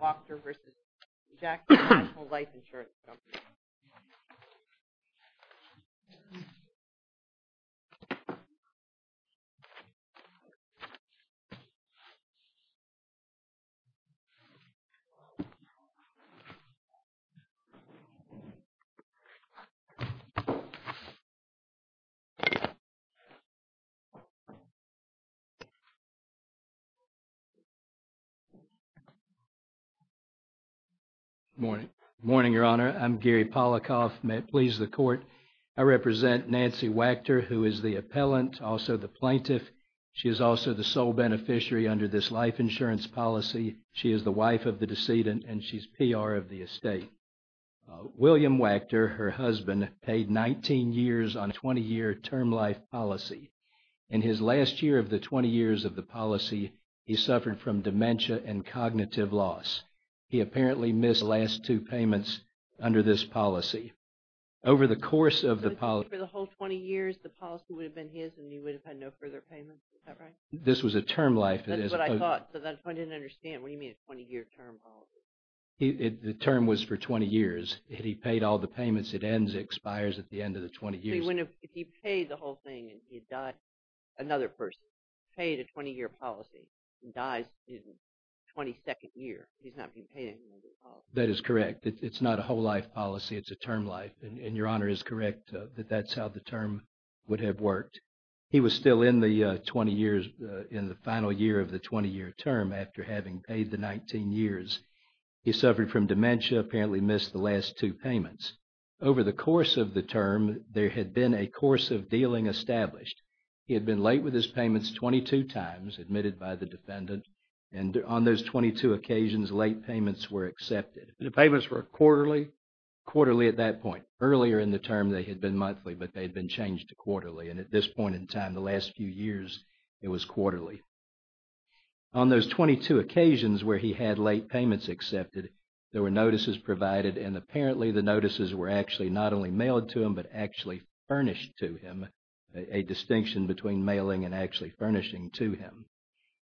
Wactor v. Jackson National Life Insurance Company Good morning. Good morning, Your Honor. I'm Gary Polikoff. May it please the court. I represent Nancy Wactor, who is the appellant, also the plaintiff. She is also the sole beneficiary under this life insurance policy. She is the wife of the decedent, and she's PR of the estate. William Wactor, her husband, paid 19 years on a 20-year term life policy. In his last year of the 20 years of the policy, he suffered from dementia and cognitive loss. He apparently missed the last two payments under this policy. Over the course of the policy... For the whole 20 years, the policy would have been his, and he would have had no further payments. Is that right? This was a term life. That's what I thought, but I didn't understand. What do you mean a 20-year term policy? The term was for 20 years. If he paid all the payments, it ends, expires at the end of the 20 years. Actually, if he paid the whole thing and he died, another person, paid a 20-year policy and dies in the 22nd year, he's not being paid anything under the policy. That is correct. It's not a whole life policy. It's a term life. And Your Honor is correct that that's how the term would have worked. He was still in the 20 years, in the final year of the 20-year term after having paid the 19 years. He suffered from dementia, apparently missed the last two payments. Over the course of the term, there had been a course of dealing established. He had been late with his payments 22 times, admitted by the defendant. And on those 22 occasions, late payments were accepted. The payments were quarterly? Quarterly at that point. Earlier in the term, they had been monthly, but they had been changed to quarterly. And at this point in time, the last few years, it was quarterly. On those 22 occasions where he had late payments accepted, there were notices provided and apparently the notices were actually not only mailed to him, but actually furnished to him. A distinction between mailing and actually furnishing to him.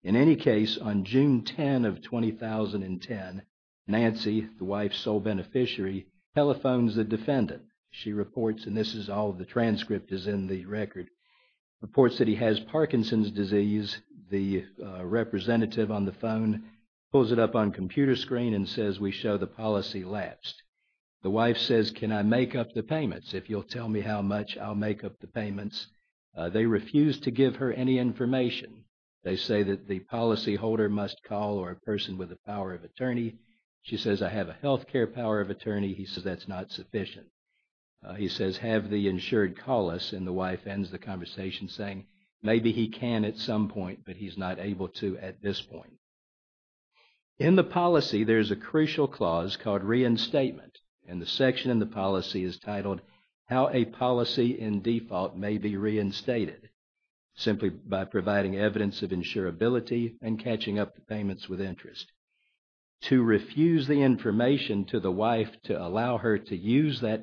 In any case, on June 10 of 2010, Nancy, the wife's sole beneficiary, telephones the defendant. She reports, and this is all the transcript is in the record, reports that he has Parkinson's disease. And the representative on the phone pulls it up on computer screen and says, we show the policy lapsed. The wife says, can I make up the payments? If you'll tell me how much, I'll make up the payments. They refuse to give her any information. They say that the policyholder must call or a person with the power of attorney. She says, I have a health care power of attorney. He says, that's not sufficient. He says, have the insured call us. And the wife ends the conversation saying, maybe he can at some point, but he's not able to at this point. In the policy, there's a crucial clause called reinstatement. And the section in the policy is titled, how a policy in default may be reinstated. Simply by providing evidence of insurability and catching up the payments with interest. To refuse the information to the wife to allow her to use the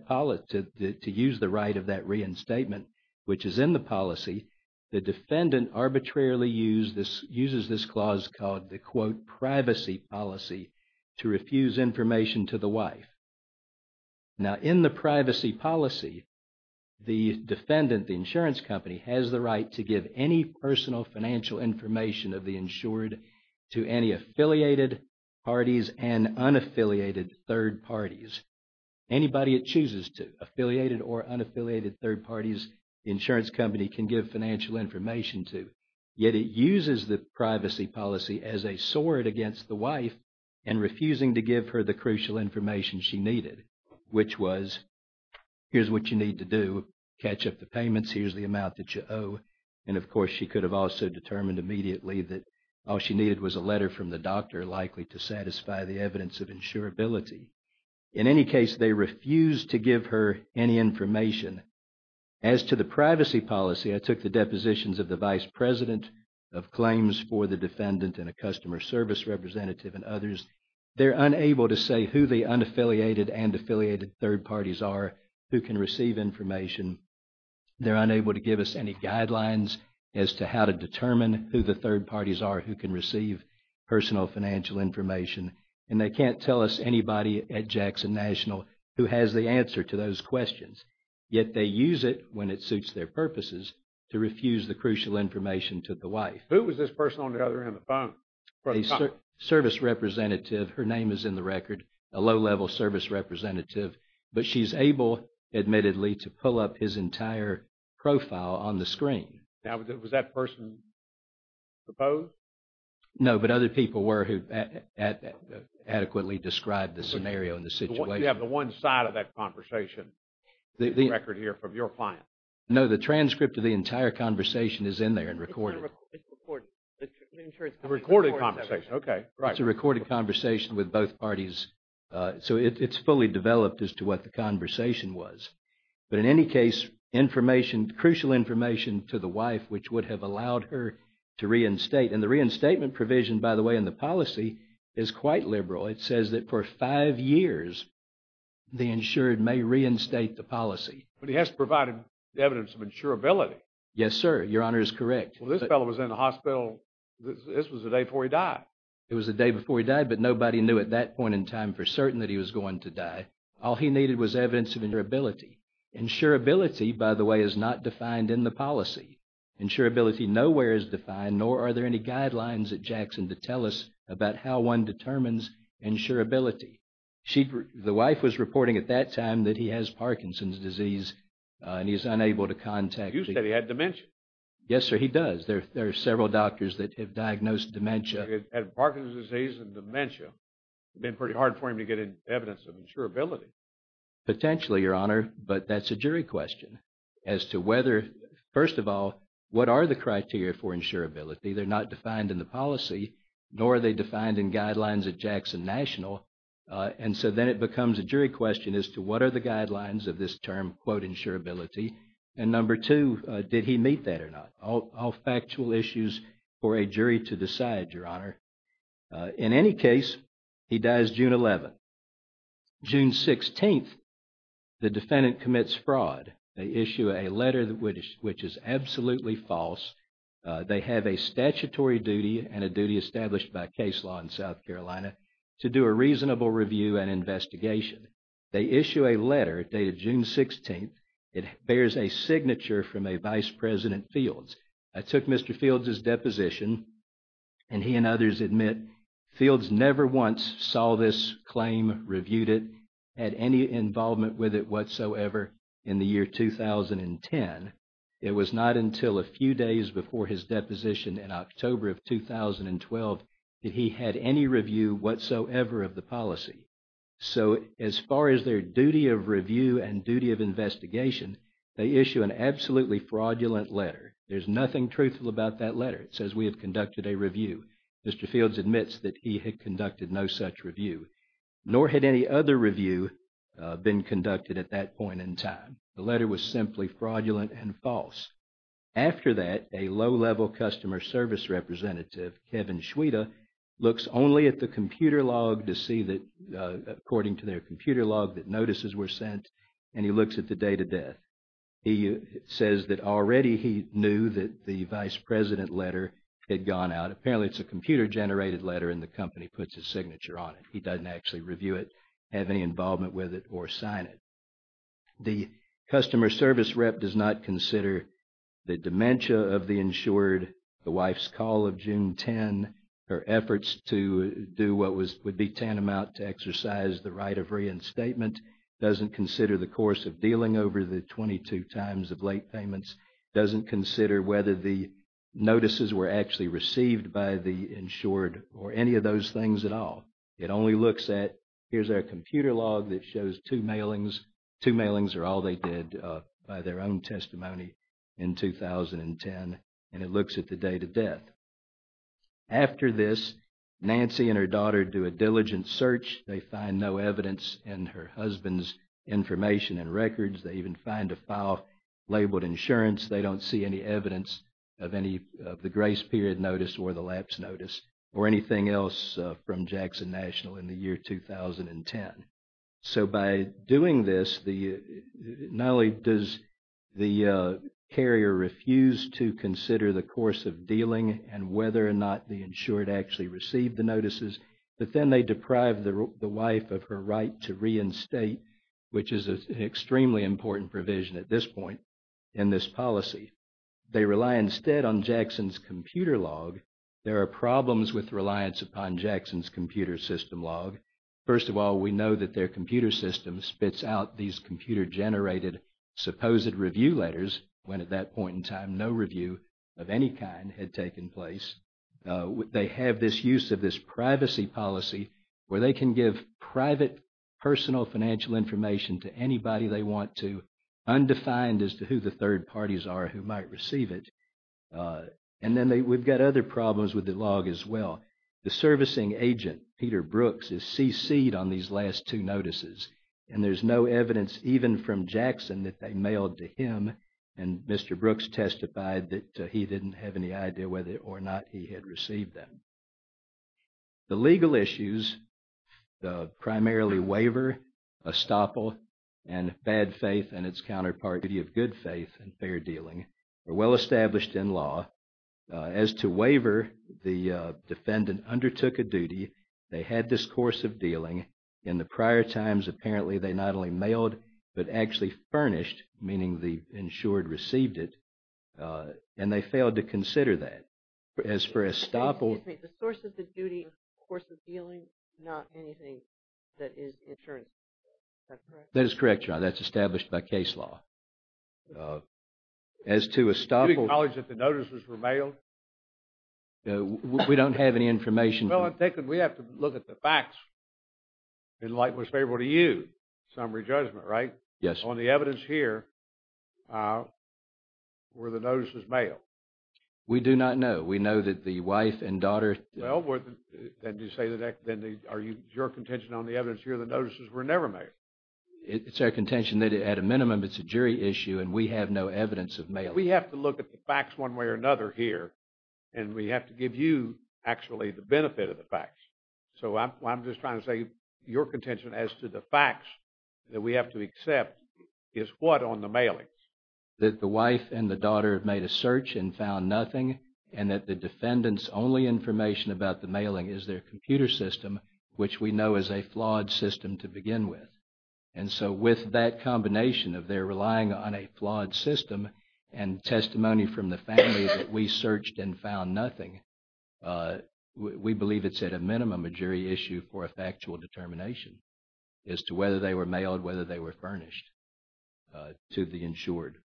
right of that reinstatement, which is in the policy, the defendant arbitrarily uses this clause called the quote, privacy policy, to refuse information to the wife. Now, in the privacy policy, the defendant, the insurance company, has the right to give any personal financial information of the insured to any affiliated parties and unaffiliated third parties. Anybody it chooses to, affiliated or unaffiliated third parties, the insurance company can give financial information to. Yet it uses the privacy policy as a sword against the wife and refusing to give her the crucial information she needed, which was, here's what you need to do, catch up the payments, here's the amount that you owe. And of course, she could have also determined immediately that all she needed was a letter from the doctor likely to satisfy the evidence of insurability. In any case, they refuse to give her any information. As to the privacy policy, I took the depositions of the vice president of claims for the defendant and a customer service representative and others. They're unable to say who the unaffiliated and affiliated third parties are who can receive information. They're unable to give us any guidelines as to how to determine who the third parties are who can receive personal financial information. And they can't tell us anybody at Jackson National who has the answer to those questions. Yet they use it when it suits their purposes to refuse the crucial information to the wife. Who was this person on the other end of the phone? A service representative, her name is in the record, a low-level service representative. But she's able, admittedly, to pull up his entire profile on the screen. Now, was that person proposed? No, but other people were who adequately described the scenario and the situation. You have the one side of that conversation in the record here from your client. No, the transcript of the entire conversation is in there and recorded. The recorded conversation, okay. It's a recorded conversation with both parties. So it's fully developed as to what the conversation was. But in any case, information, crucial information to the wife which would have allowed her to reinstate. And the reinstatement provision, by the way, in the policy is quite liberal. It says that for five years, the insured may reinstate the policy. But he has to provide evidence of insurability. Yes, sir. Your honor is correct. Well, this fellow was in the hospital, this was the day before he died. It was the day before he died, but nobody knew at that point in time for certain that he was going to die. All he needed was evidence of insurability. Insurability, by the way, is not defined in the policy. Insurability nowhere is defined, nor are there any guidelines at Jackson to tell us about how one determines insurability. The wife was reporting at that time that he has Parkinson's disease and he's unable to contact. You said he had dementia. Yes, sir, he does. There are several doctors that have diagnosed dementia. He had Parkinson's disease and dementia. It's been pretty hard for him to get evidence of insurability. Potentially, your honor. But that's a jury question as to whether, first of all, what are the criteria for insurability? They're not defined in the policy, nor are they defined in guidelines at Jackson National. And so then it becomes a jury question as to what are the guidelines of this term, quote, insurability. And number two, did he meet that or not? All factual issues for a jury to decide, your honor. In any case, he dies June 11th. June 16th, the defendant commits fraud. They issue a letter which is absolutely false. They have a statutory duty and a duty established by case law in South Carolina to do a reasonable review and investigation. They issue a letter dated June 16th. It bears a signature from a Vice President Fields. I took Mr. Fields' deposition, and he and others admit Fields never once saw this claim, reviewed it, had any involvement with it whatsoever in the year 2010. It was not until a few days before his deposition in October of 2012 that he had any review whatsoever of the policy. So as far as their duty of review and duty of investigation, they issue an absolutely fraudulent letter. There's nothing truthful about that letter. It says we have conducted a review. Mr. Fields admits that he had conducted no such review, nor had any other review been conducted at that point in time. The letter was simply fraudulent and false. After that, a low-level customer service representative, Kevin Schweda, looks only at the computer log to see that, according to their computer log, that notices were sent, and he looks at the date of death. He says that already he knew that the Vice President letter had gone out. Apparently, it's a computer-generated letter, and the company puts a signature on it. He doesn't actually review it, have any involvement with it, or sign it. The customer service rep does not consider the dementia of the insured, the wife's call of June 10, her efforts to do what would be tantamount to exercise the right of reinstatement, doesn't consider the course of dealing over the 22 times of late payments, doesn't consider whether the notices were actually received by the insured or any of those things at all. It only looks at, here's our computer log that shows two mailings. Two mailings are all they did by their own testimony in 2010, and it looks at the date of death. After this, Nancy and her daughter do a diligent search. They find no evidence in her husband's information and records. They even find a file labeled insurance. They don't see any evidence of the grace period notice or the lapse notice or anything else from Jackson National in the year 2010. So by doing this, not only does the carrier refuse to consider the course of dealing and whether or not the insured actually received the notices, but then they deprive the wife of her right to reinstate, which is an extremely important provision at this point in this policy. They rely instead on Jackson's computer log. There are problems with reliance upon Jackson's computer system log. First of all, we know that their computer system spits out these computer-generated supposed review letters, when at that point in time no review of any kind had taken place. They have this use of this privacy policy where they can give private personal financial information to anybody they want to, undefined as to who the third parties are who might receive it. And then we've got other problems with the log as well. The servicing agent, Peter Brooks, is cc'd on these last two notices, and there's no evidence even from Jackson that they mailed to him, and Mr. Brooks testified that he didn't have any idea whether or not he had received them. The legal issues, primarily waiver, estoppel, and bad faith and its counterpart, duty of good faith and fair dealing, are well established in law. As to waiver, the defendant undertook a duty. They had this course of dealing. In the prior times, apparently they not only mailed, but actually furnished, meaning the insured received it, and they failed to consider that. As for estoppel... Excuse me, the source of the duty, the course of dealing, not anything that is insurance, is that correct? That is correct, Your Honor, that's established by case law. As to estoppel... Did he acknowledge that the notices were mailed? We don't have any information... We have to look at the facts in light of what's favorable to you, summary judgment, right? Yes. On the evidence here, were the notices mailed? We do not know. We know that the wife and daughter... Well, then you say that... Are you... Is your contention on the evidence here that notices were never mailed? It's our contention that, at a minimum, it's a jury issue, and we have no evidence of mailing. We have to look at the facts one way or another here, and we have to give you, actually, the benefit of the facts. So I'm just trying to say, your contention as to the facts that we have to accept is what on the mailings? That the wife and the daughter made a search and found nothing, and that the defendant's only information about the mailing is their computer system, which we know is a flawed system to begin with. And so with that combination of their relying on a flawed system and testimony from the family that we searched and found nothing, we believe it's, at a minimum, a jury issue for a factual determination as to whether they were mailed, whether they were furnished to the insured.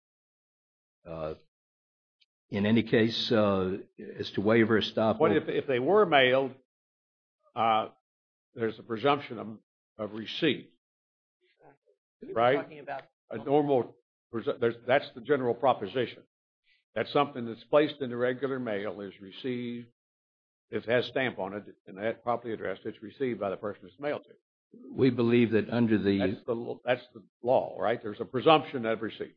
In any case, as to waiver or stop... But if they were mailed, there's a presumption of receipt. Right? A normal... That's the general proposition. That's something that's placed in the regular mail, is received... It has a stamp on it, and that's properly addressed. It's received by the person who's mailed it. We believe that under the... That's the law, right? There's a presumption of receipt.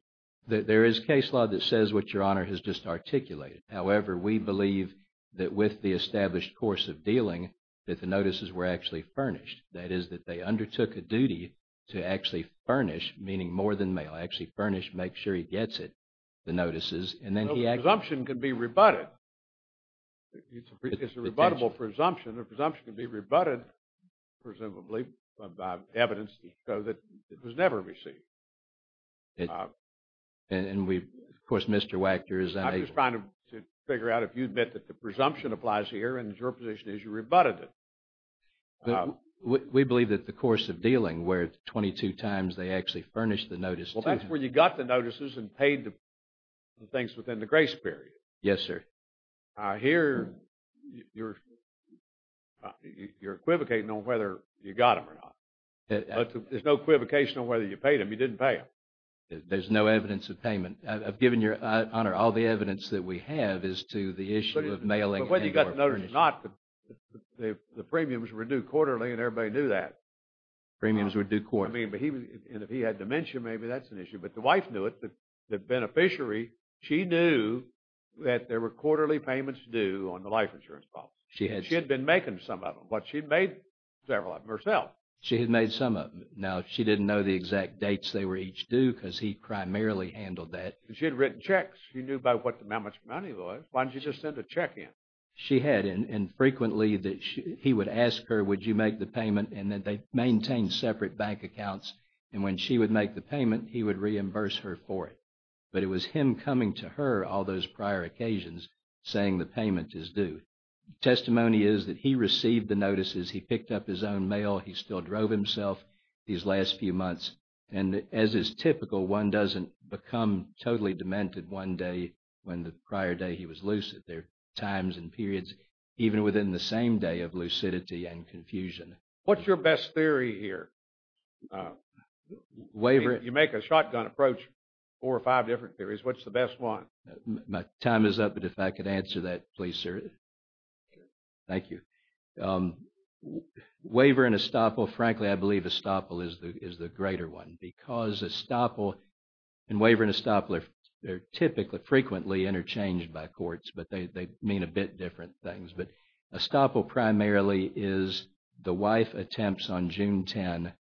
There is case law that says what Your Honor has just articulated. However, we believe that with the established course of dealing, that the notices were actually furnished. That is, that they undertook a duty to actually furnish, meaning more than mail, actually furnish, make sure he gets it, the notices. And then he actually... No, the presumption can be rebutted. It's a rebuttable presumption. A presumption can be rebutted, presumably, by evidence so that it was never received. And we... Of course, Mr. Wachter is... He was trying to figure out if you admit that the presumption applies here, and your position is you rebutted it. We believe that the course of dealing, where 22 times they actually furnished the notice... Well, that's where you got the notices and paid the things within the grace period. Yes, sir. Here, you're equivocating on whether you got them or not. There's no equivocation on whether you paid them. You didn't pay them. There's no evidence of payment. I've given your honor all the evidence that we have as to the issue of mailing... But whether you got the notice or not, the premiums were due quarterly, and everybody knew that. Premiums were due quarterly. And if he had dementia, maybe that's an issue. But the wife knew it. The beneficiary, she knew that there were quarterly payments due on the life insurance problem. She had... She had been making some of them, but she'd made several of them herself. She had made some of them. Now, she didn't know the exact dates they were each due because he primarily handled that. She had written checks. She knew about how much money it was. Why didn't she just send a check in? She had. And frequently, he would ask her, would you make the payment? And they maintained separate bank accounts. And when she would make the payment, he would reimburse her for it. But it was him coming to her all those prior occasions saying the payment is due. Testimony is that he received the notices. He picked up his own mail. He still drove himself these last few months. And as is typical, one doesn't become totally demented one day when the prior day he was lucid. There are times and periods, even within the same day, of lucidity and confusion. What's your best theory here? You make a shotgun approach, four or five different theories. What's the best one? My time is up, but if I could answer that, please, sir. Thank you. Waiver and estoppel, frankly, I believe estoppel is the greater one because estoppel and waiver and estoppel are typically frequently interchanged by courts, but they mean a bit different things. But estoppel primarily is the wife attempts on June 10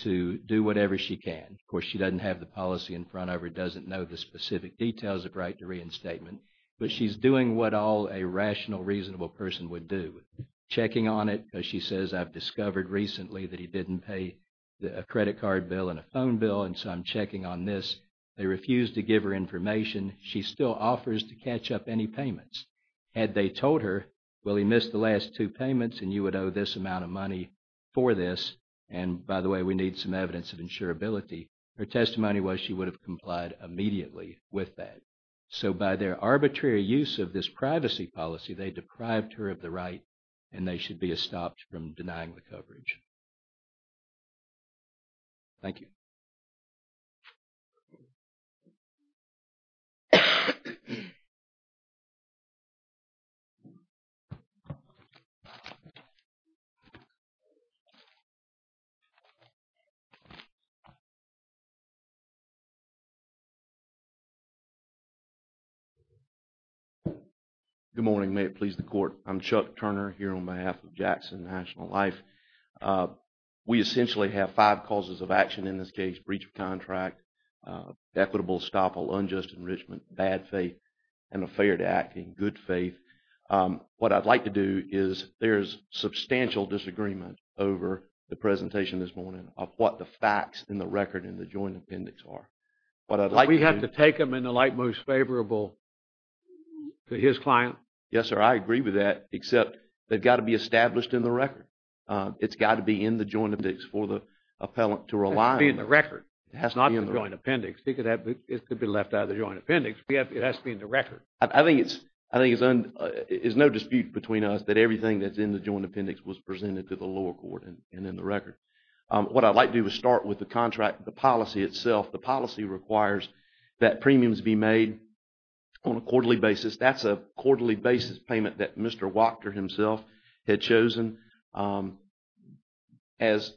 to do whatever she can. Of course, she doesn't have the policy in front of her, doesn't know the specific details of right to reinstatement, but she's doing what all a rational, reasonable person would do. Checking on it because she says, I've discovered recently that he didn't pay a credit card bill and a phone bill, and so I'm checking on this. They refuse to give her information. She still offers to catch up any payments. Had they told her, well, he missed the last two payments, and you would owe this amount of money for this, and by the way, we need some evidence of insurability, her testimony was she would have complied immediately with that. So by their arbitrary use of this privacy policy, they deprived her of the right and they should be estopped from denying the coverage. Thank you. Good morning. May it please the Court. I'm Chuck Turner here on behalf of Jackson National Life. We essentially have five causes of action in this case. Breach of contract, equitable estoppel, unjust enrichment, bad faith, and a failure to act in good faith. What I'd like to do is, there's substantial disagreement over the presentation this morning of what the facts in the record in the joint appendix are. We have to take them in the light most favorable to his client? Yes, sir, I agree with that, except they've got to be established in the record. It's got to be in the joint appendix for the appellant to rely on. It has to be in the record. It has to be in the record. It has to be in the record. It has to be in the record. I think it's no dispute between us that everything that's in the joint appendix was presented to the lower court and in the record. What I'd like to do is start with the contract, the policy itself. The policy requires that premiums be made on a quarterly basis. That's a quarterly basis payment that Mr. Wachter himself had chosen. As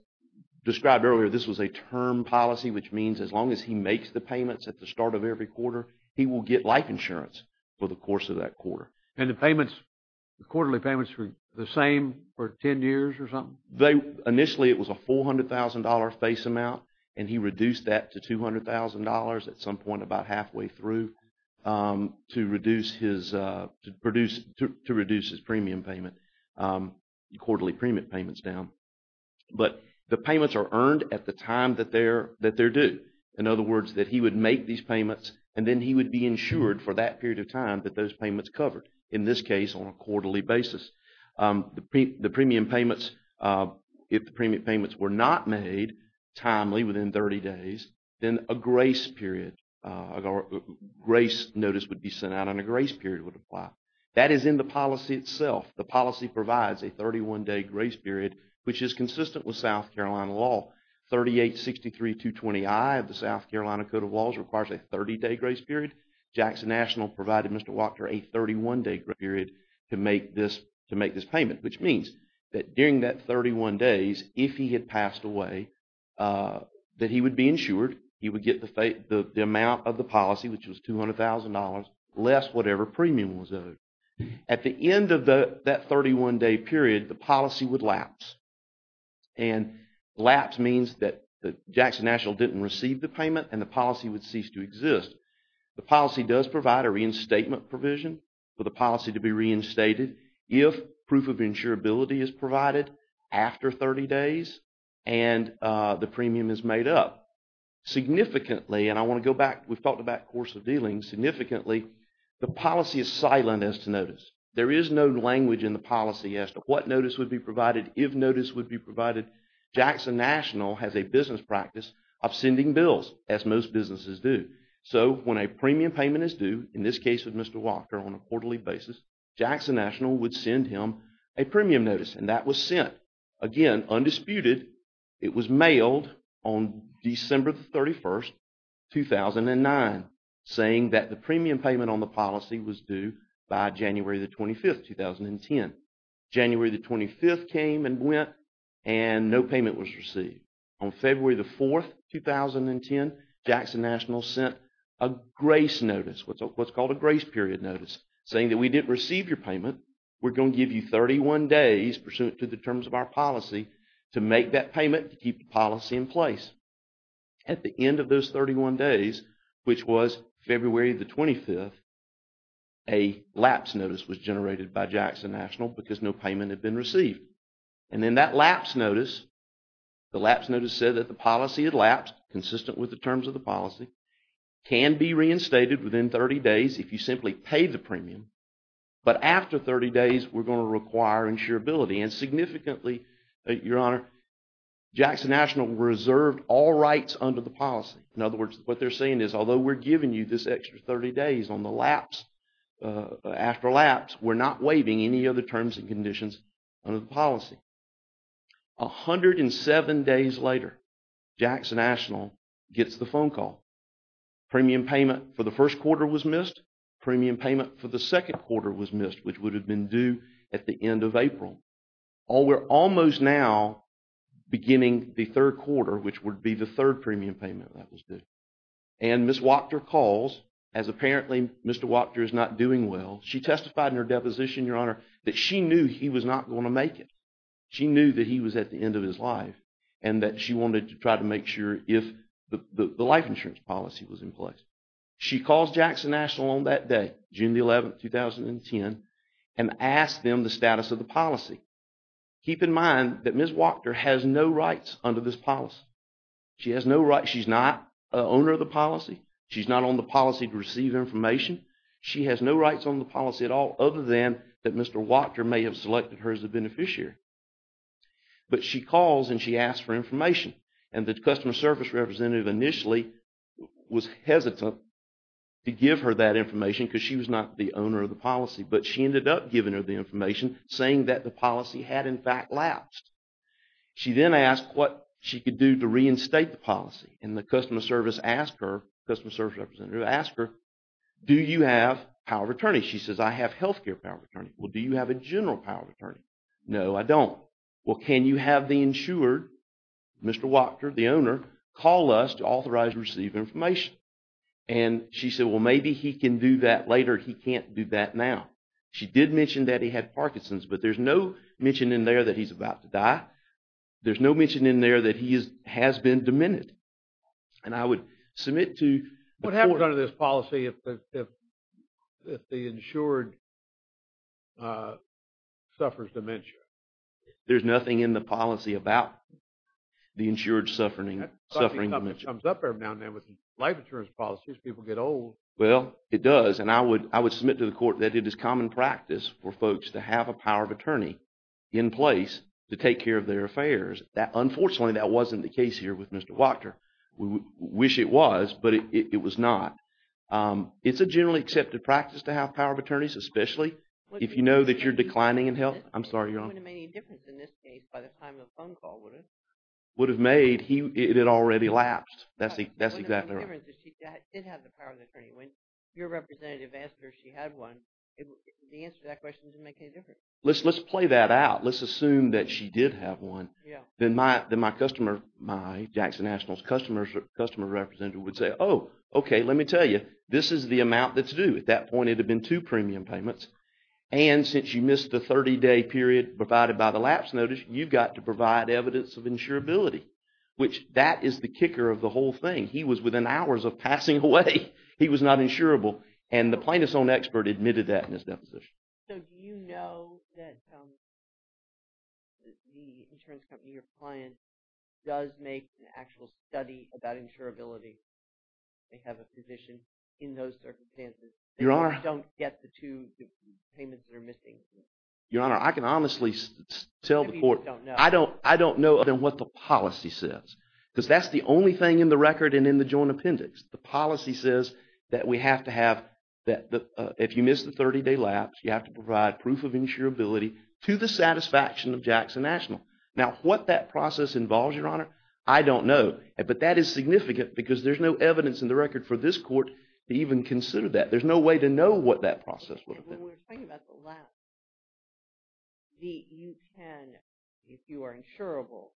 described earlier, this was a term policy, which means as long as he makes the payments at the start of every quarter, he will get life insurance for the course of that quarter. And the payments, the quarterly payments were the same for 10 years or something? Initially it was a $400,000 face amount, and he reduced that to $200,000 at some point about halfway through to reduce his premium payment, quarterly premium payments down. But the payments are earned at the time that they're due. In other words, that he would make these payments, and then he would be insured for that period of time that those payments covered, in this case on a quarterly basis. The premium payments, if the premium payments were not made timely, within 30 days, then a grace period, a grace notice would be sent out and a grace period would apply. That is in the policy itself. The policy provides a 31-day grace period, which is consistent with South Carolina law. 3863.220i of the South Carolina Code of Laws requires a 30-day grace period. Jackson National provided Mr. Wachter a 31-day grace period to make this payment, which means that during that 31 days, if he had passed away, that he would be insured. He would get the amount of the policy, which was $200,000, less whatever premium was owed. At the end of that 31-day period, the policy would lapse. And lapse means that Jackson National didn't receive the payment and the policy would cease to exist. The policy does provide a reinstatement provision for the policy to be reinstated if proof of insurability is provided after 30 days and the premium is made up. Significantly, and I want to go back, we've talked about course of dealings, significantly, the policy is silent as to notice. There is no language in the policy as to what notice would be provided, if notice would be provided. Jackson National has a business practice of sending bills, as most businesses do. So, when a premium payment is due, in this case with Mr. Walker, on a quarterly basis, Jackson National would send him a premium notice, and that was sent. Again, undisputed, it was mailed on December 31, 2009, saying that the premium payment on the policy was due by January 25, 2010. January 25 came and went and no payment was received. On February 4, 2010, Jackson National sent a grace notice, what's called a grace period notice, saying that we didn't receive your payment, we're going to give you 31 days, pursuant to the terms of our policy, to make that payment to keep the policy in place. At the end of those 31 days, which was February the 25th, a lapse notice was generated by Jackson National because no payment had been received. And in that lapse notice, the lapse notice said that the policy had lapsed, consistent with the terms of the policy, can be reinstated within 30 days if you simply pay the premium, but after 30 days we're going to require insurability. And significantly, Your Honor, Jackson National reserved all rights under the policy. In other words, what they're saying is, although we're giving you this extra 30 days on the lapse, after lapse, we're not waiving any other terms and conditions under the policy. 107 days later, Jackson National gets the phone call. Premium payment for the first quarter was missed, premium payment for the second quarter was missed, which would have been due at the end of April. We're almost now beginning the third quarter, which would be the third premium payment that was due. And Ms. Wachter calls, as apparently Mr. Wachter is not doing well. She testified in her deposition, Your Honor, that she knew he was not going to make it. She knew that he was at the end of his life and that she wanted to try to make sure if the life insurance policy was in place. She calls Jackson National on that day, June 11, 2010, and asks them the status of the policy. Keep in mind that Ms. Wachter has no rights under this policy. She has no rights. She's not an owner of the policy. She's not on the policy to receive information. She has no rights on the policy at all other than that Mr. Wachter may have selected her as a beneficiary. But she calls and she asks for information. And the customer service representative initially was hesitant to give her that information because she was not the owner of the policy. But she ended up giving her the information, saying that the policy had in fact lapsed. She then asked what she could do to reinstate the policy. And the customer service asked her, customer service representative asked her, do you have power of attorney? She says, I have health care power of attorney. Well, do you have a general power of attorney? No, I don't. Well, can you have the insured, Mr. Wachter, the owner, call us to authorize receiving information? And she said, well, maybe he can do that later. He can't do that now. She did mention that he had Parkinson's, but there's no mention in there that he's about to die. There's no mention in there that he has been demented. And I would submit to... What happens under this policy if the insured suffers dementia? There's nothing in the policy about the insured suffering dementia. It comes up every now and then with life insurance policies. People get old. Well, it does. And I would submit to the court that it is common practice for folks to have a power of attorney in place to take care of their affairs. Unfortunately, that wasn't the case here with Mr. Wachter. We wish it was, but it was not. It's a generally accepted practice to have power of attorneys, especially if you know that you're declining in health. I'm sorry, Your Honor. It wouldn't have made any difference in this case by the time of the phone call, would it? Would have made. It had already lapsed. That's exactly right. The only difference is she did have the power of attorney. When your representative asked her if she had one, the answer to that question didn't make any difference. Let's play that out. Let's assume that she did have one. Then my customer, my Jackson Nationals customer representative, would say, oh, okay, let me tell you, this is the amount that's due. At that point, it would have been two premium payments. And since you missed the 30-day period provided by the lapse notice, you've got to provide evidence of insurability, which that is the kicker of the whole thing. He was within hours of passing away. And the plaintiff's own expert admitted that in his deposition. So do you know that the insurance company or client does make an actual study about insurability? They have a physician in those circumstances. They don't get the two payments that are missing. Your Honor, I can honestly tell the court. I don't know what the policy says. Because that's the only thing in the record and in the joint appendix. The policy says that we have to have, that if you miss the 30-day lapse, you have to provide proof of insurability to the satisfaction of Jackson National. Now, what that process involves, Your Honor, I don't know. But that is significant because there's no evidence in the record for this court to even consider that. There's no way to know what that process would have been. When we're talking about the lapse, you can, if you are insurable,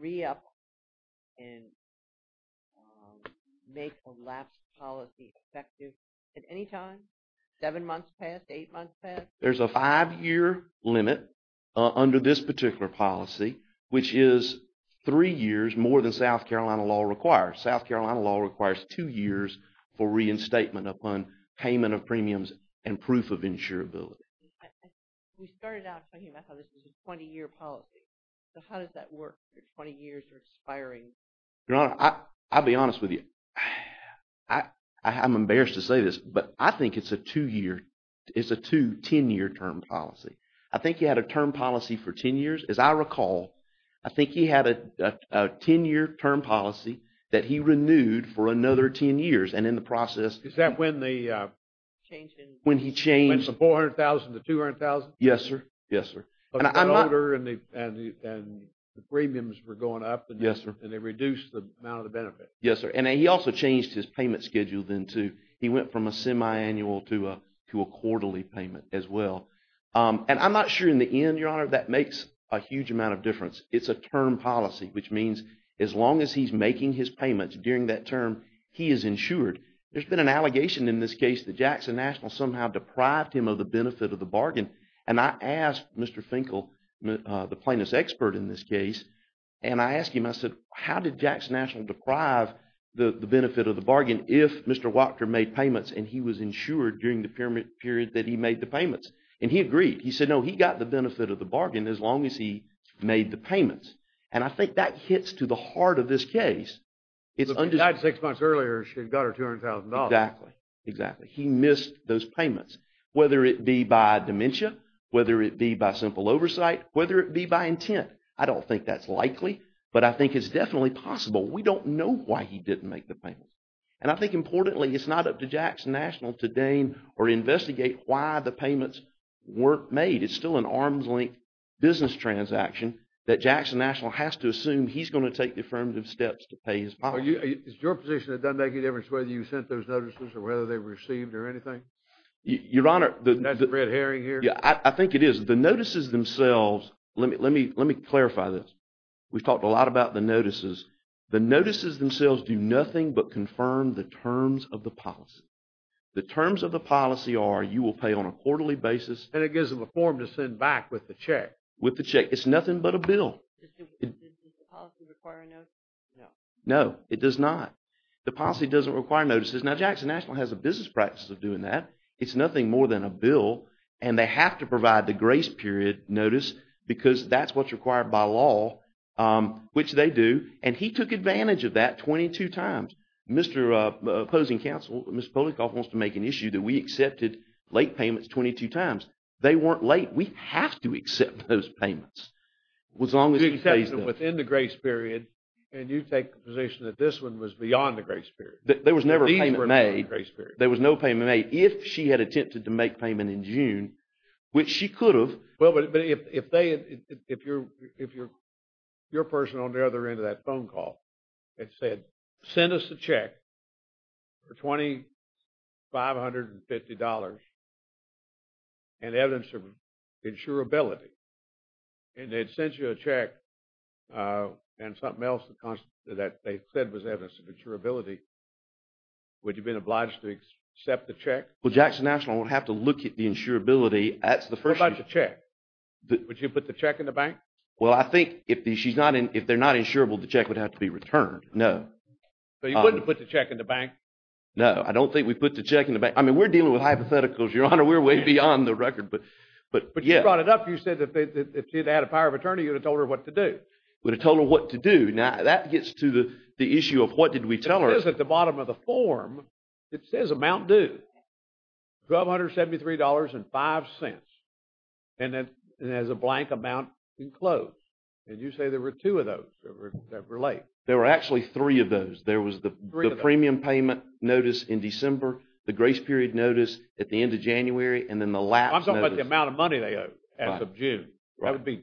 re-apply and make a lapse policy effective at any time? Seven months past, eight months past? There's a five-year limit under this particular policy, which is three years more than South Carolina law requires. South Carolina law requires two years for reinstatement upon payment of premiums and proof of insurability. We started out thinking about how this was a 20-year policy. So how does that work for 20 years or expiring? Your Honor, I'll be honest with you. I'm embarrassed to say this, but I think it's a two-year, it's a two 10-year term policy. I think he had a term policy for 10 years. As I recall, I think he had a 10-year term policy that he renewed for another 10 years. And in the process... Is that when the change in... When he changed... When the 400,000 to 200,000? Yes, sir. Yes, sir. And the premiums were going up... Yes, sir. And they reduced the amount of the benefit. Yes, sir. And he also changed his payment schedule then, too. He went from a semi-annual to a quarterly payment as well. And I'm not sure in the end, Your Honor, that makes a huge amount of difference. It's a term policy, which means as long as he's making his payments during that term, he is insured. There's been an allegation in this case that Jackson National somehow deprived him of the benefit of the bargain. And I asked Mr. Finkel, the plaintiff's expert in this case, and I asked him, I said, how did Jackson National deprive the benefit of the bargain if Mr. Wachter made payments and he was insured during the period that he made the payments? And he agreed. He said, no, he got the benefit of the bargain as long as he made the payments. And I think that hits to the heart of this case. If she died six months earlier, she'd got her $200,000. Exactly. Exactly. He missed those payments. Whether it be by dementia, whether it be by simple oversight, whether it be by intent, I don't think that's likely, but I think it's definitely possible. We don't know why he didn't make the payments. And I think, importantly, it's not up to Jackson National to deign or investigate why the payments weren't made. It's still an arms-length business transaction that Jackson National has to assume he's going to take the affirmative steps to pay his bonds. Is your position that doesn't make any difference whether you sent those notices or whether they were received or anything? Your Honor, I think it is. The notices themselves, let me clarify this. We've talked a lot about the notices. The notices themselves do nothing but confirm the terms of the policy. The terms of the policy are you will pay on a quarterly basis. And it gives them a form to send back with the check. With the check. It's nothing but a bill. Does the policy require a notice? No, it does not. The policy doesn't require notices. Now, Jackson National has a business practice of doing that. It's nothing more than a bill. And they have to provide the grace period notice because that's what's required by law, which they do. And he took advantage of that 22 times. Mr. opposing counsel, Mr. Polinkoff, wants to make an issue that we accepted late payments 22 times. They weren't late. We have to accept those payments. As long as you face them. You accept them within the grace period and you take the position that this one was beyond the grace period. There was never a payment made. There was no payment made if she had attempted to make payment in June, which she could have. Well, but if they, if you're, if you're, your person on the other end of that phone call had said, send us a check for $2,550 and evidence of insurability. And they'd sent you a check and something else that they said was evidence of insurability. Would you have been obliged to accept the check? Well, Jackson National would have to look at the insurability. What about the check? Would you put the check in the bank? Well, I think if she's not in, if they're not insurable, the check would have to be returned. No. So you wouldn't put the check in the bank? No, I don't think we put the check in the bank. I mean, we're dealing with hypotheticals, Your Honor. We're way beyond the record. But you brought it up. You said that if she had a power of attorney, you would have told her what to do. You would have told her what to do. Now, that gets to the issue of what did we tell her. It is at the bottom of the form. It says amount due. $1,273.05. And it has a blank amount enclosed. And you say there were two of those that relate. There were actually three of those. There was the premium payment notice in December, the grace period notice at the end of January, and then the lapse notice. I'm talking about the amount of money they owe as of June. That would be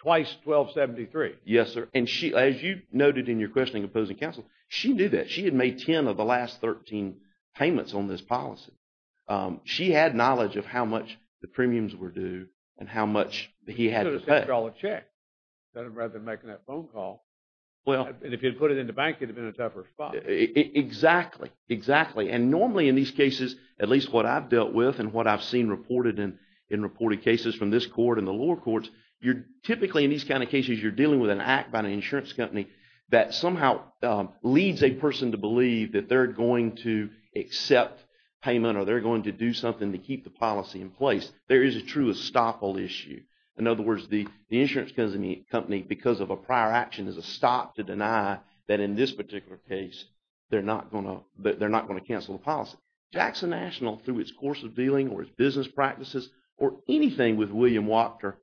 twice $1,273. Yes, sir. And as you noted in your question in opposing counsel, she knew that. She had made 10 of the last 13 payments on this policy. She had knowledge of how much the premiums were due and how much he had to pay. You could have sent her a check, rather than making that phone call. And if you had put it in the bank, it would have been a tougher spot. Exactly. Exactly. And normally in these cases, at least what I've dealt with and what I've seen reported in reported cases from this court and the lower court, you're typically, in these kind of cases, you're dealing with an act by an insurance company that somehow leads a person to believe that they're going to accept payment or they're going to do something to keep the policy in place. There is a true estoppel issue. In other words, the insurance company, because of a prior action, is a stop to deny that in this particular case they're not going to cancel the policy. Jackson National, through its course of dealing or its business practices or anything with William Wachter,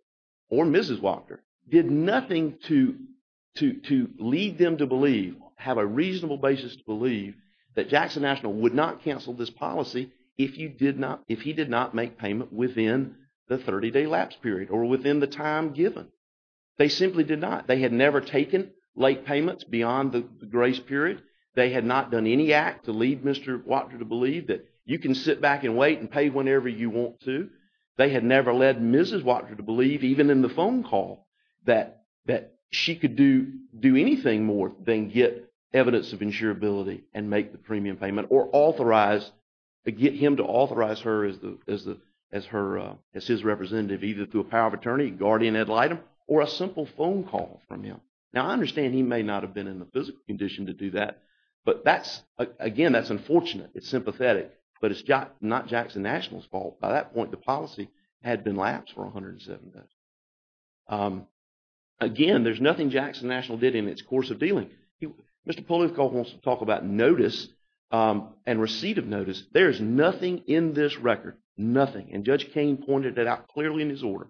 or Mrs. Wachter, did nothing to lead them to believe, have a reasonable basis to believe, that Jackson National would not cancel this policy if he did not make payment within the 30-day lapse period or within the time given. They simply did not. They had never taken late payments beyond the grace period. They had not done any act to lead Mr. Wachter to believe that you can sit back and wait and pay whenever you want to. They had never led Mrs. Wachter to believe, even in the phone call, that she could do anything more than get evidence of insurability and make the premium payment or get him to authorize her as his representative either through a power of attorney, guardian ad litem, or a simple phone call from him. Now, I understand he may not have been in the physical condition to do that, but again, that's unfortunate. It's sympathetic. But it's not Jackson National's fault. By that point, the policy had been lapsed for 107 days. Again, there's nothing Jackson National did in its course of dealing. Mr. Poliakoff wants to talk about notice and receipt of notice. There is nothing in this record, nothing. And Judge Koehn pointed that out clearly in his order.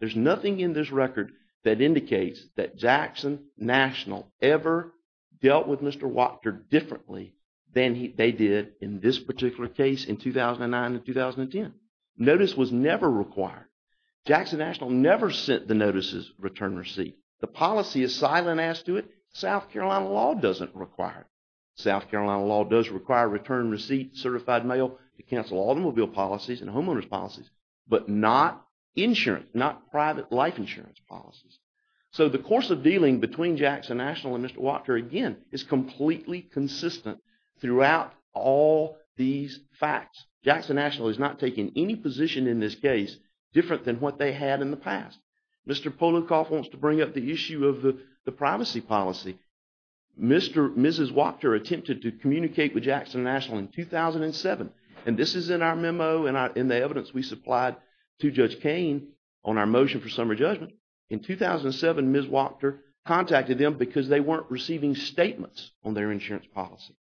There's nothing in this record that indicates that Jackson National ever dealt with Mr. Wachter differently than they did in this particular case in 2009 and 2010. Notice was never required. Jackson National never sent the notices, return, receipt. The policy is silent as to it. South Carolina law doesn't require it. South Carolina law does require return, receipt, certified mail to cancel automobile policies and homeowner's policies, but not insurance, not private life insurance policies. So the course of dealing between Jackson National and Mr. Wachter, again, is completely consistent throughout all these facts. Jackson National is not taking any position in this case different than what they had in the past. Mr. Poliakoff wants to bring up the issue of the privacy policy. Mrs. Wachter attempted to communicate with Jackson National in 2007, and this is in our memo and the evidence we supplied to Judge Koehn on our motion for summary judgment. In 2007, Ms. Wachter contacted them because they weren't receiving statements on their insurance policy.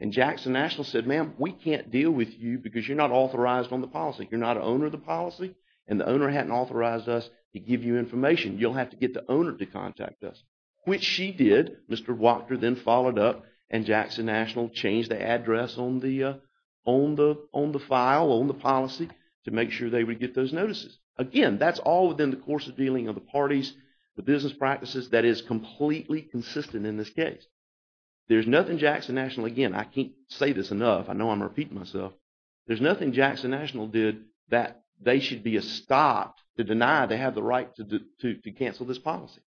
And Jackson National said, ma'am, we can't deal with you because you're not authorized on the policy. You're not an owner of the policy, and the owner hadn't authorized us to give you information. You'll have to get the owner to contact us, which she did. Mr. Wachter then followed up, and Jackson National changed the address on the file, on the policy, to make sure they would get those notices. Again, that's all within the course of dealing of the parties, the business practices. That is completely consistent in this case. There's nothing Jackson National, again, I can't say this enough. I know I'm repeating myself. There's nothing Jackson National did that they should be stopped to deny they have the right to cancel this policy.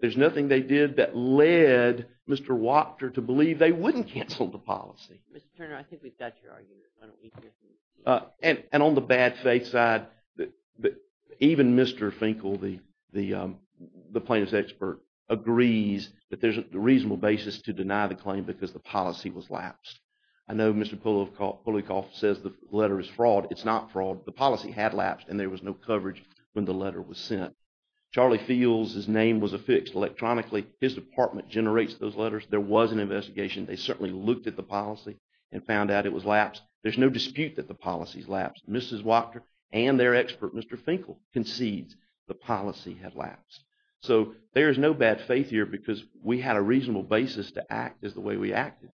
There's nothing they did that led Mr. Wachter to believe they wouldn't cancel the policy. Mr. Turner, I think we've got your argument. And on the bad faith side, even Mr. Finkel, the plaintiff's expert, agrees that there's a reasonable basis to deny the claim because the policy was lapsed. I know Mr. Pulikoff says the letter is fraud. It's not fraud. The policy had lapsed, and there was no coverage when the letter was sent. Charlie Fields, his name was affixed electronically. His department generates those letters. There was an investigation. They certainly looked at the policy and found out it was lapsed. There's no dispute that the policy's lapsed. Mrs. Wachter and their expert, Mr. Finkel, concedes the policy had lapsed. So there's no bad faith here because we had a reasonable basis to act as the way we acted.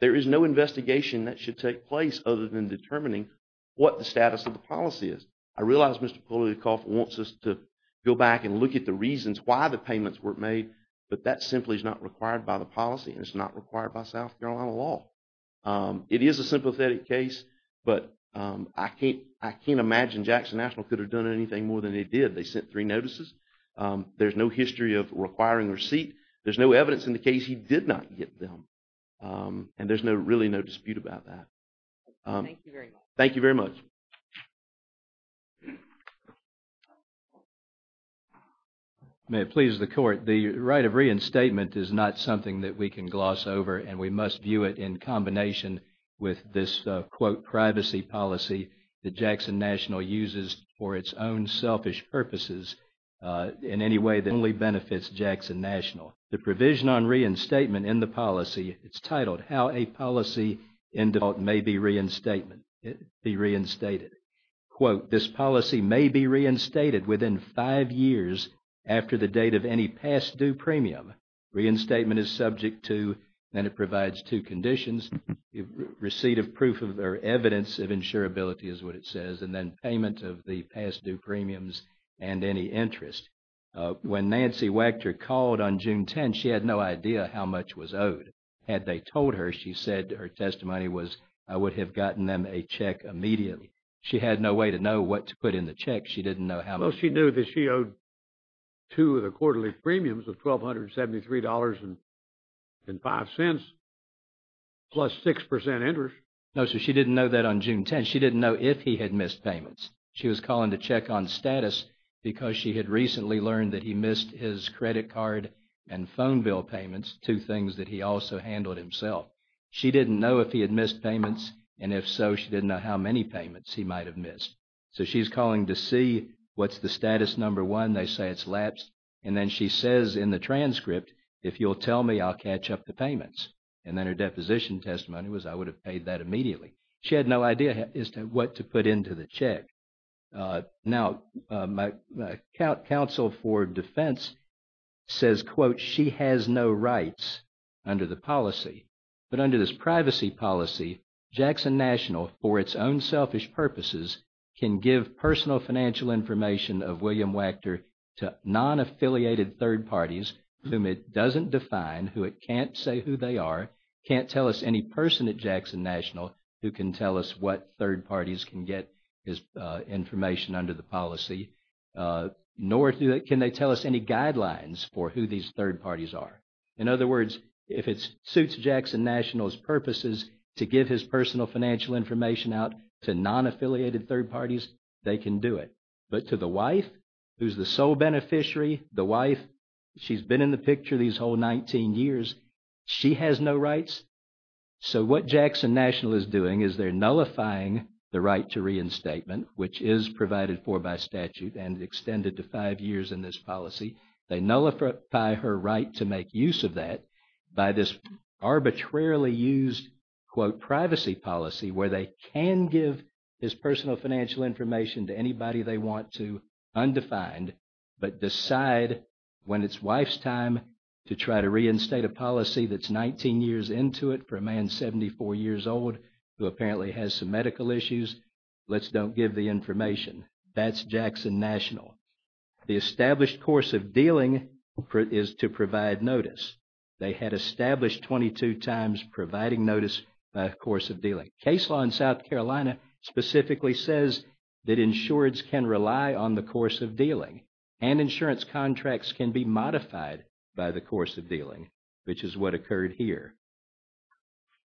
There is no investigation that should take place other than determining what the status of the policy is. I realize Mr. Pulikoff wants us to go back and look at the reasons why the payments were made, but that simply is not required by the policy, and it's not required by South Carolina law. It is a sympathetic case, but I can't imagine Jackson National could have done anything more than they did. They sent three notices. There's no history of requiring receipt. There's no evidence in the case he did not get them, and there's really no dispute about that. Thank you very much. Thank you very much. May it please the Court, the right of reinstatement is not something that we can gloss over, and we must view it in combination with this, quote, privacy policy that Jackson National uses for its own selfish purposes in any way that only benefits Jackson National. The provision on reinstatement in the policy, it's titled, How a Policy Endowed May Be Reinstated. Quote, This policy may be reinstated within five years after the date of any past due premium. Reinstatement is subject to, and it provides two conditions. Receipt of proof or evidence of insurability is what it says, and then payment of the past due premiums and any interest. When Nancy Wachter called on June 10, she had no idea how much was owed. Had they told her, she said her testimony was, I would have gotten them a check immediately. She had no way to know what to put in the check. She didn't know how much. Well, she knew that she owed two of the quarterly premiums of $1,273.05, plus 6% interest. No, so she didn't know that on June 10. She didn't know if he had missed payments. She was calling to check on status because she had recently learned that he missed his credit card and phone bill payments, two things that he also handled himself. She didn't know if he had missed payments, and if so, she didn't know how many payments he might have missed. So she's calling to see what's the status number one. They say it's lapsed. And then she says in the transcript, if you'll tell me, I'll catch up the payments. And then her deposition testimony was, I would have paid that immediately. She had no idea what to put into the check. Now, my counsel for defense says, quote, she has no rights under the policy. But under this privacy policy, Jackson National, for its own selfish purposes, can give personal financial information of William Wachter to non-affiliated third parties whom it doesn't define, who it can't say who they are, can't tell us any person at Jackson National who can tell us what third parties can get his information under the policy, nor can they tell us any guidelines for who these third parties are. In other words, if it suits Jackson National's purposes to give his personal financial information out to non-affiliated third parties, they can do it. But to the wife, who's the sole beneficiary, the wife, she's been in the picture these whole 19 years. She has no rights. So what Jackson National is doing is they're nullifying the right to reinstatement, which is provided for by statute and extended to five years in this policy. They nullify her right to make use of that by this arbitrarily used, quote, privacy policy where they can give his personal financial information to anybody they want to, but decide when it's wife's time to try to reinstate a policy that's 19 years into it for a man 74 years old who apparently has some medical issues, let's don't give the information. That's Jackson National. The established course of dealing is to provide notice. They had established 22 times providing notice by a course of dealing. Case law in South Carolina specifically says that insureds can rely on the course of dealing and insurance contracts can be modified by the course of dealing, which is what occurred here.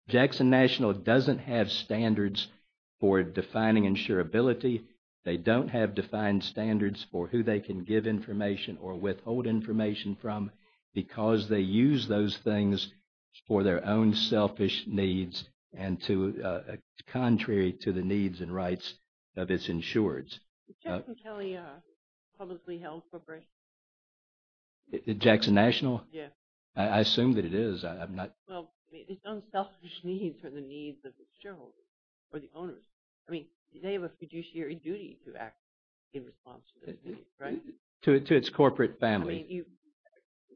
Jackson National doesn't have standards for defining insurability. They don't have defined standards for who they can give information or withhold information from because they use those things for their own selfish needs and contrary to the needs and rights of its insureds. Is Jackson Kelly a publicly held corporation? Jackson National? Yes. I assume that it is. Well, its own selfish needs are the needs of the shareholders or the owners. I mean, they have a fiduciary duty to act in response to those needs, right? To its corporate family. I mean,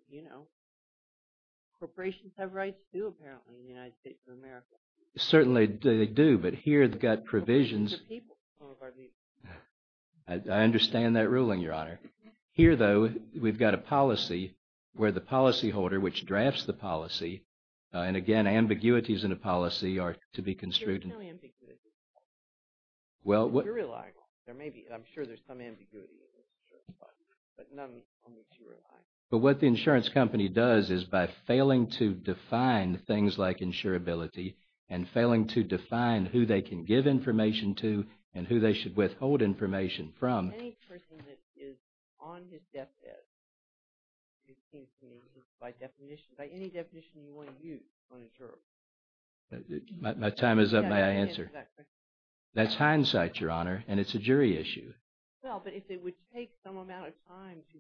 you know, corporations have rights too apparently in the United States of America. Certainly they do, but here they've got provisions. I understand that ruling, Your Honor. Here, though, we've got a policy where the policyholder, which drafts the policy, and again, ambiguities in a policy are to be construed. You're right. I'm sure there's some ambiguity. But what the insurance company does is by failing to define things like insurability and failing to define who they can give information to and who they should withhold information from. Any person that is on his deathbed, it seems to me, is by definition, by any definition, you want to use on insurance. My time is up. May I answer? That's hindsight, Your Honor, and it's a jury issue. Well, but if it would take some amount of time to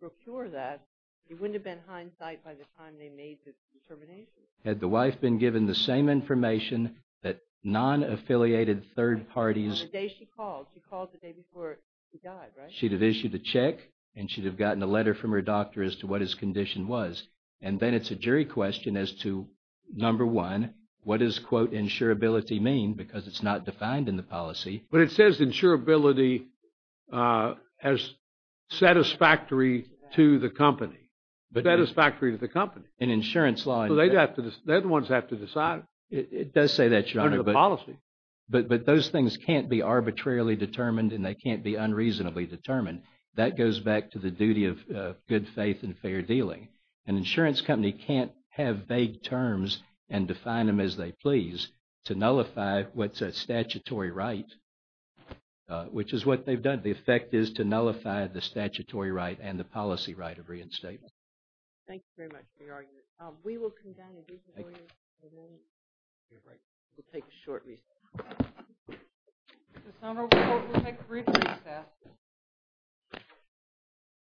procure that, it wouldn't have been hindsight by the time they made this determination. Had the wife been given the same information that non-affiliated third parties... On the day she called. She called the day before she died, right? She'd have issued a check and she'd have gotten a letter from her doctor as to what his condition was. And then it's a jury question as to, number one, what does, quote, insurability mean? Because it's not defined in the policy. But it says insurability as satisfactory to the company. Satisfactory to the company. In insurance law... So they'd have to... They're the ones that have to decide. It does say that, Your Honor. Under the policy. But those things can't be arbitrarily determined and they can't be unreasonably determined. That goes back to the duty of good faith and fair dealing. An insurance company can't have vague terms and define them as they please to nullify what's a statutory right, which is what they've done. The effect is to nullify the statutory right and the policy right of reinstatement. Thank you very much for your argument. We will come down and get your lawyer in a moment. We'll take a short recess. We'll take a brief recess.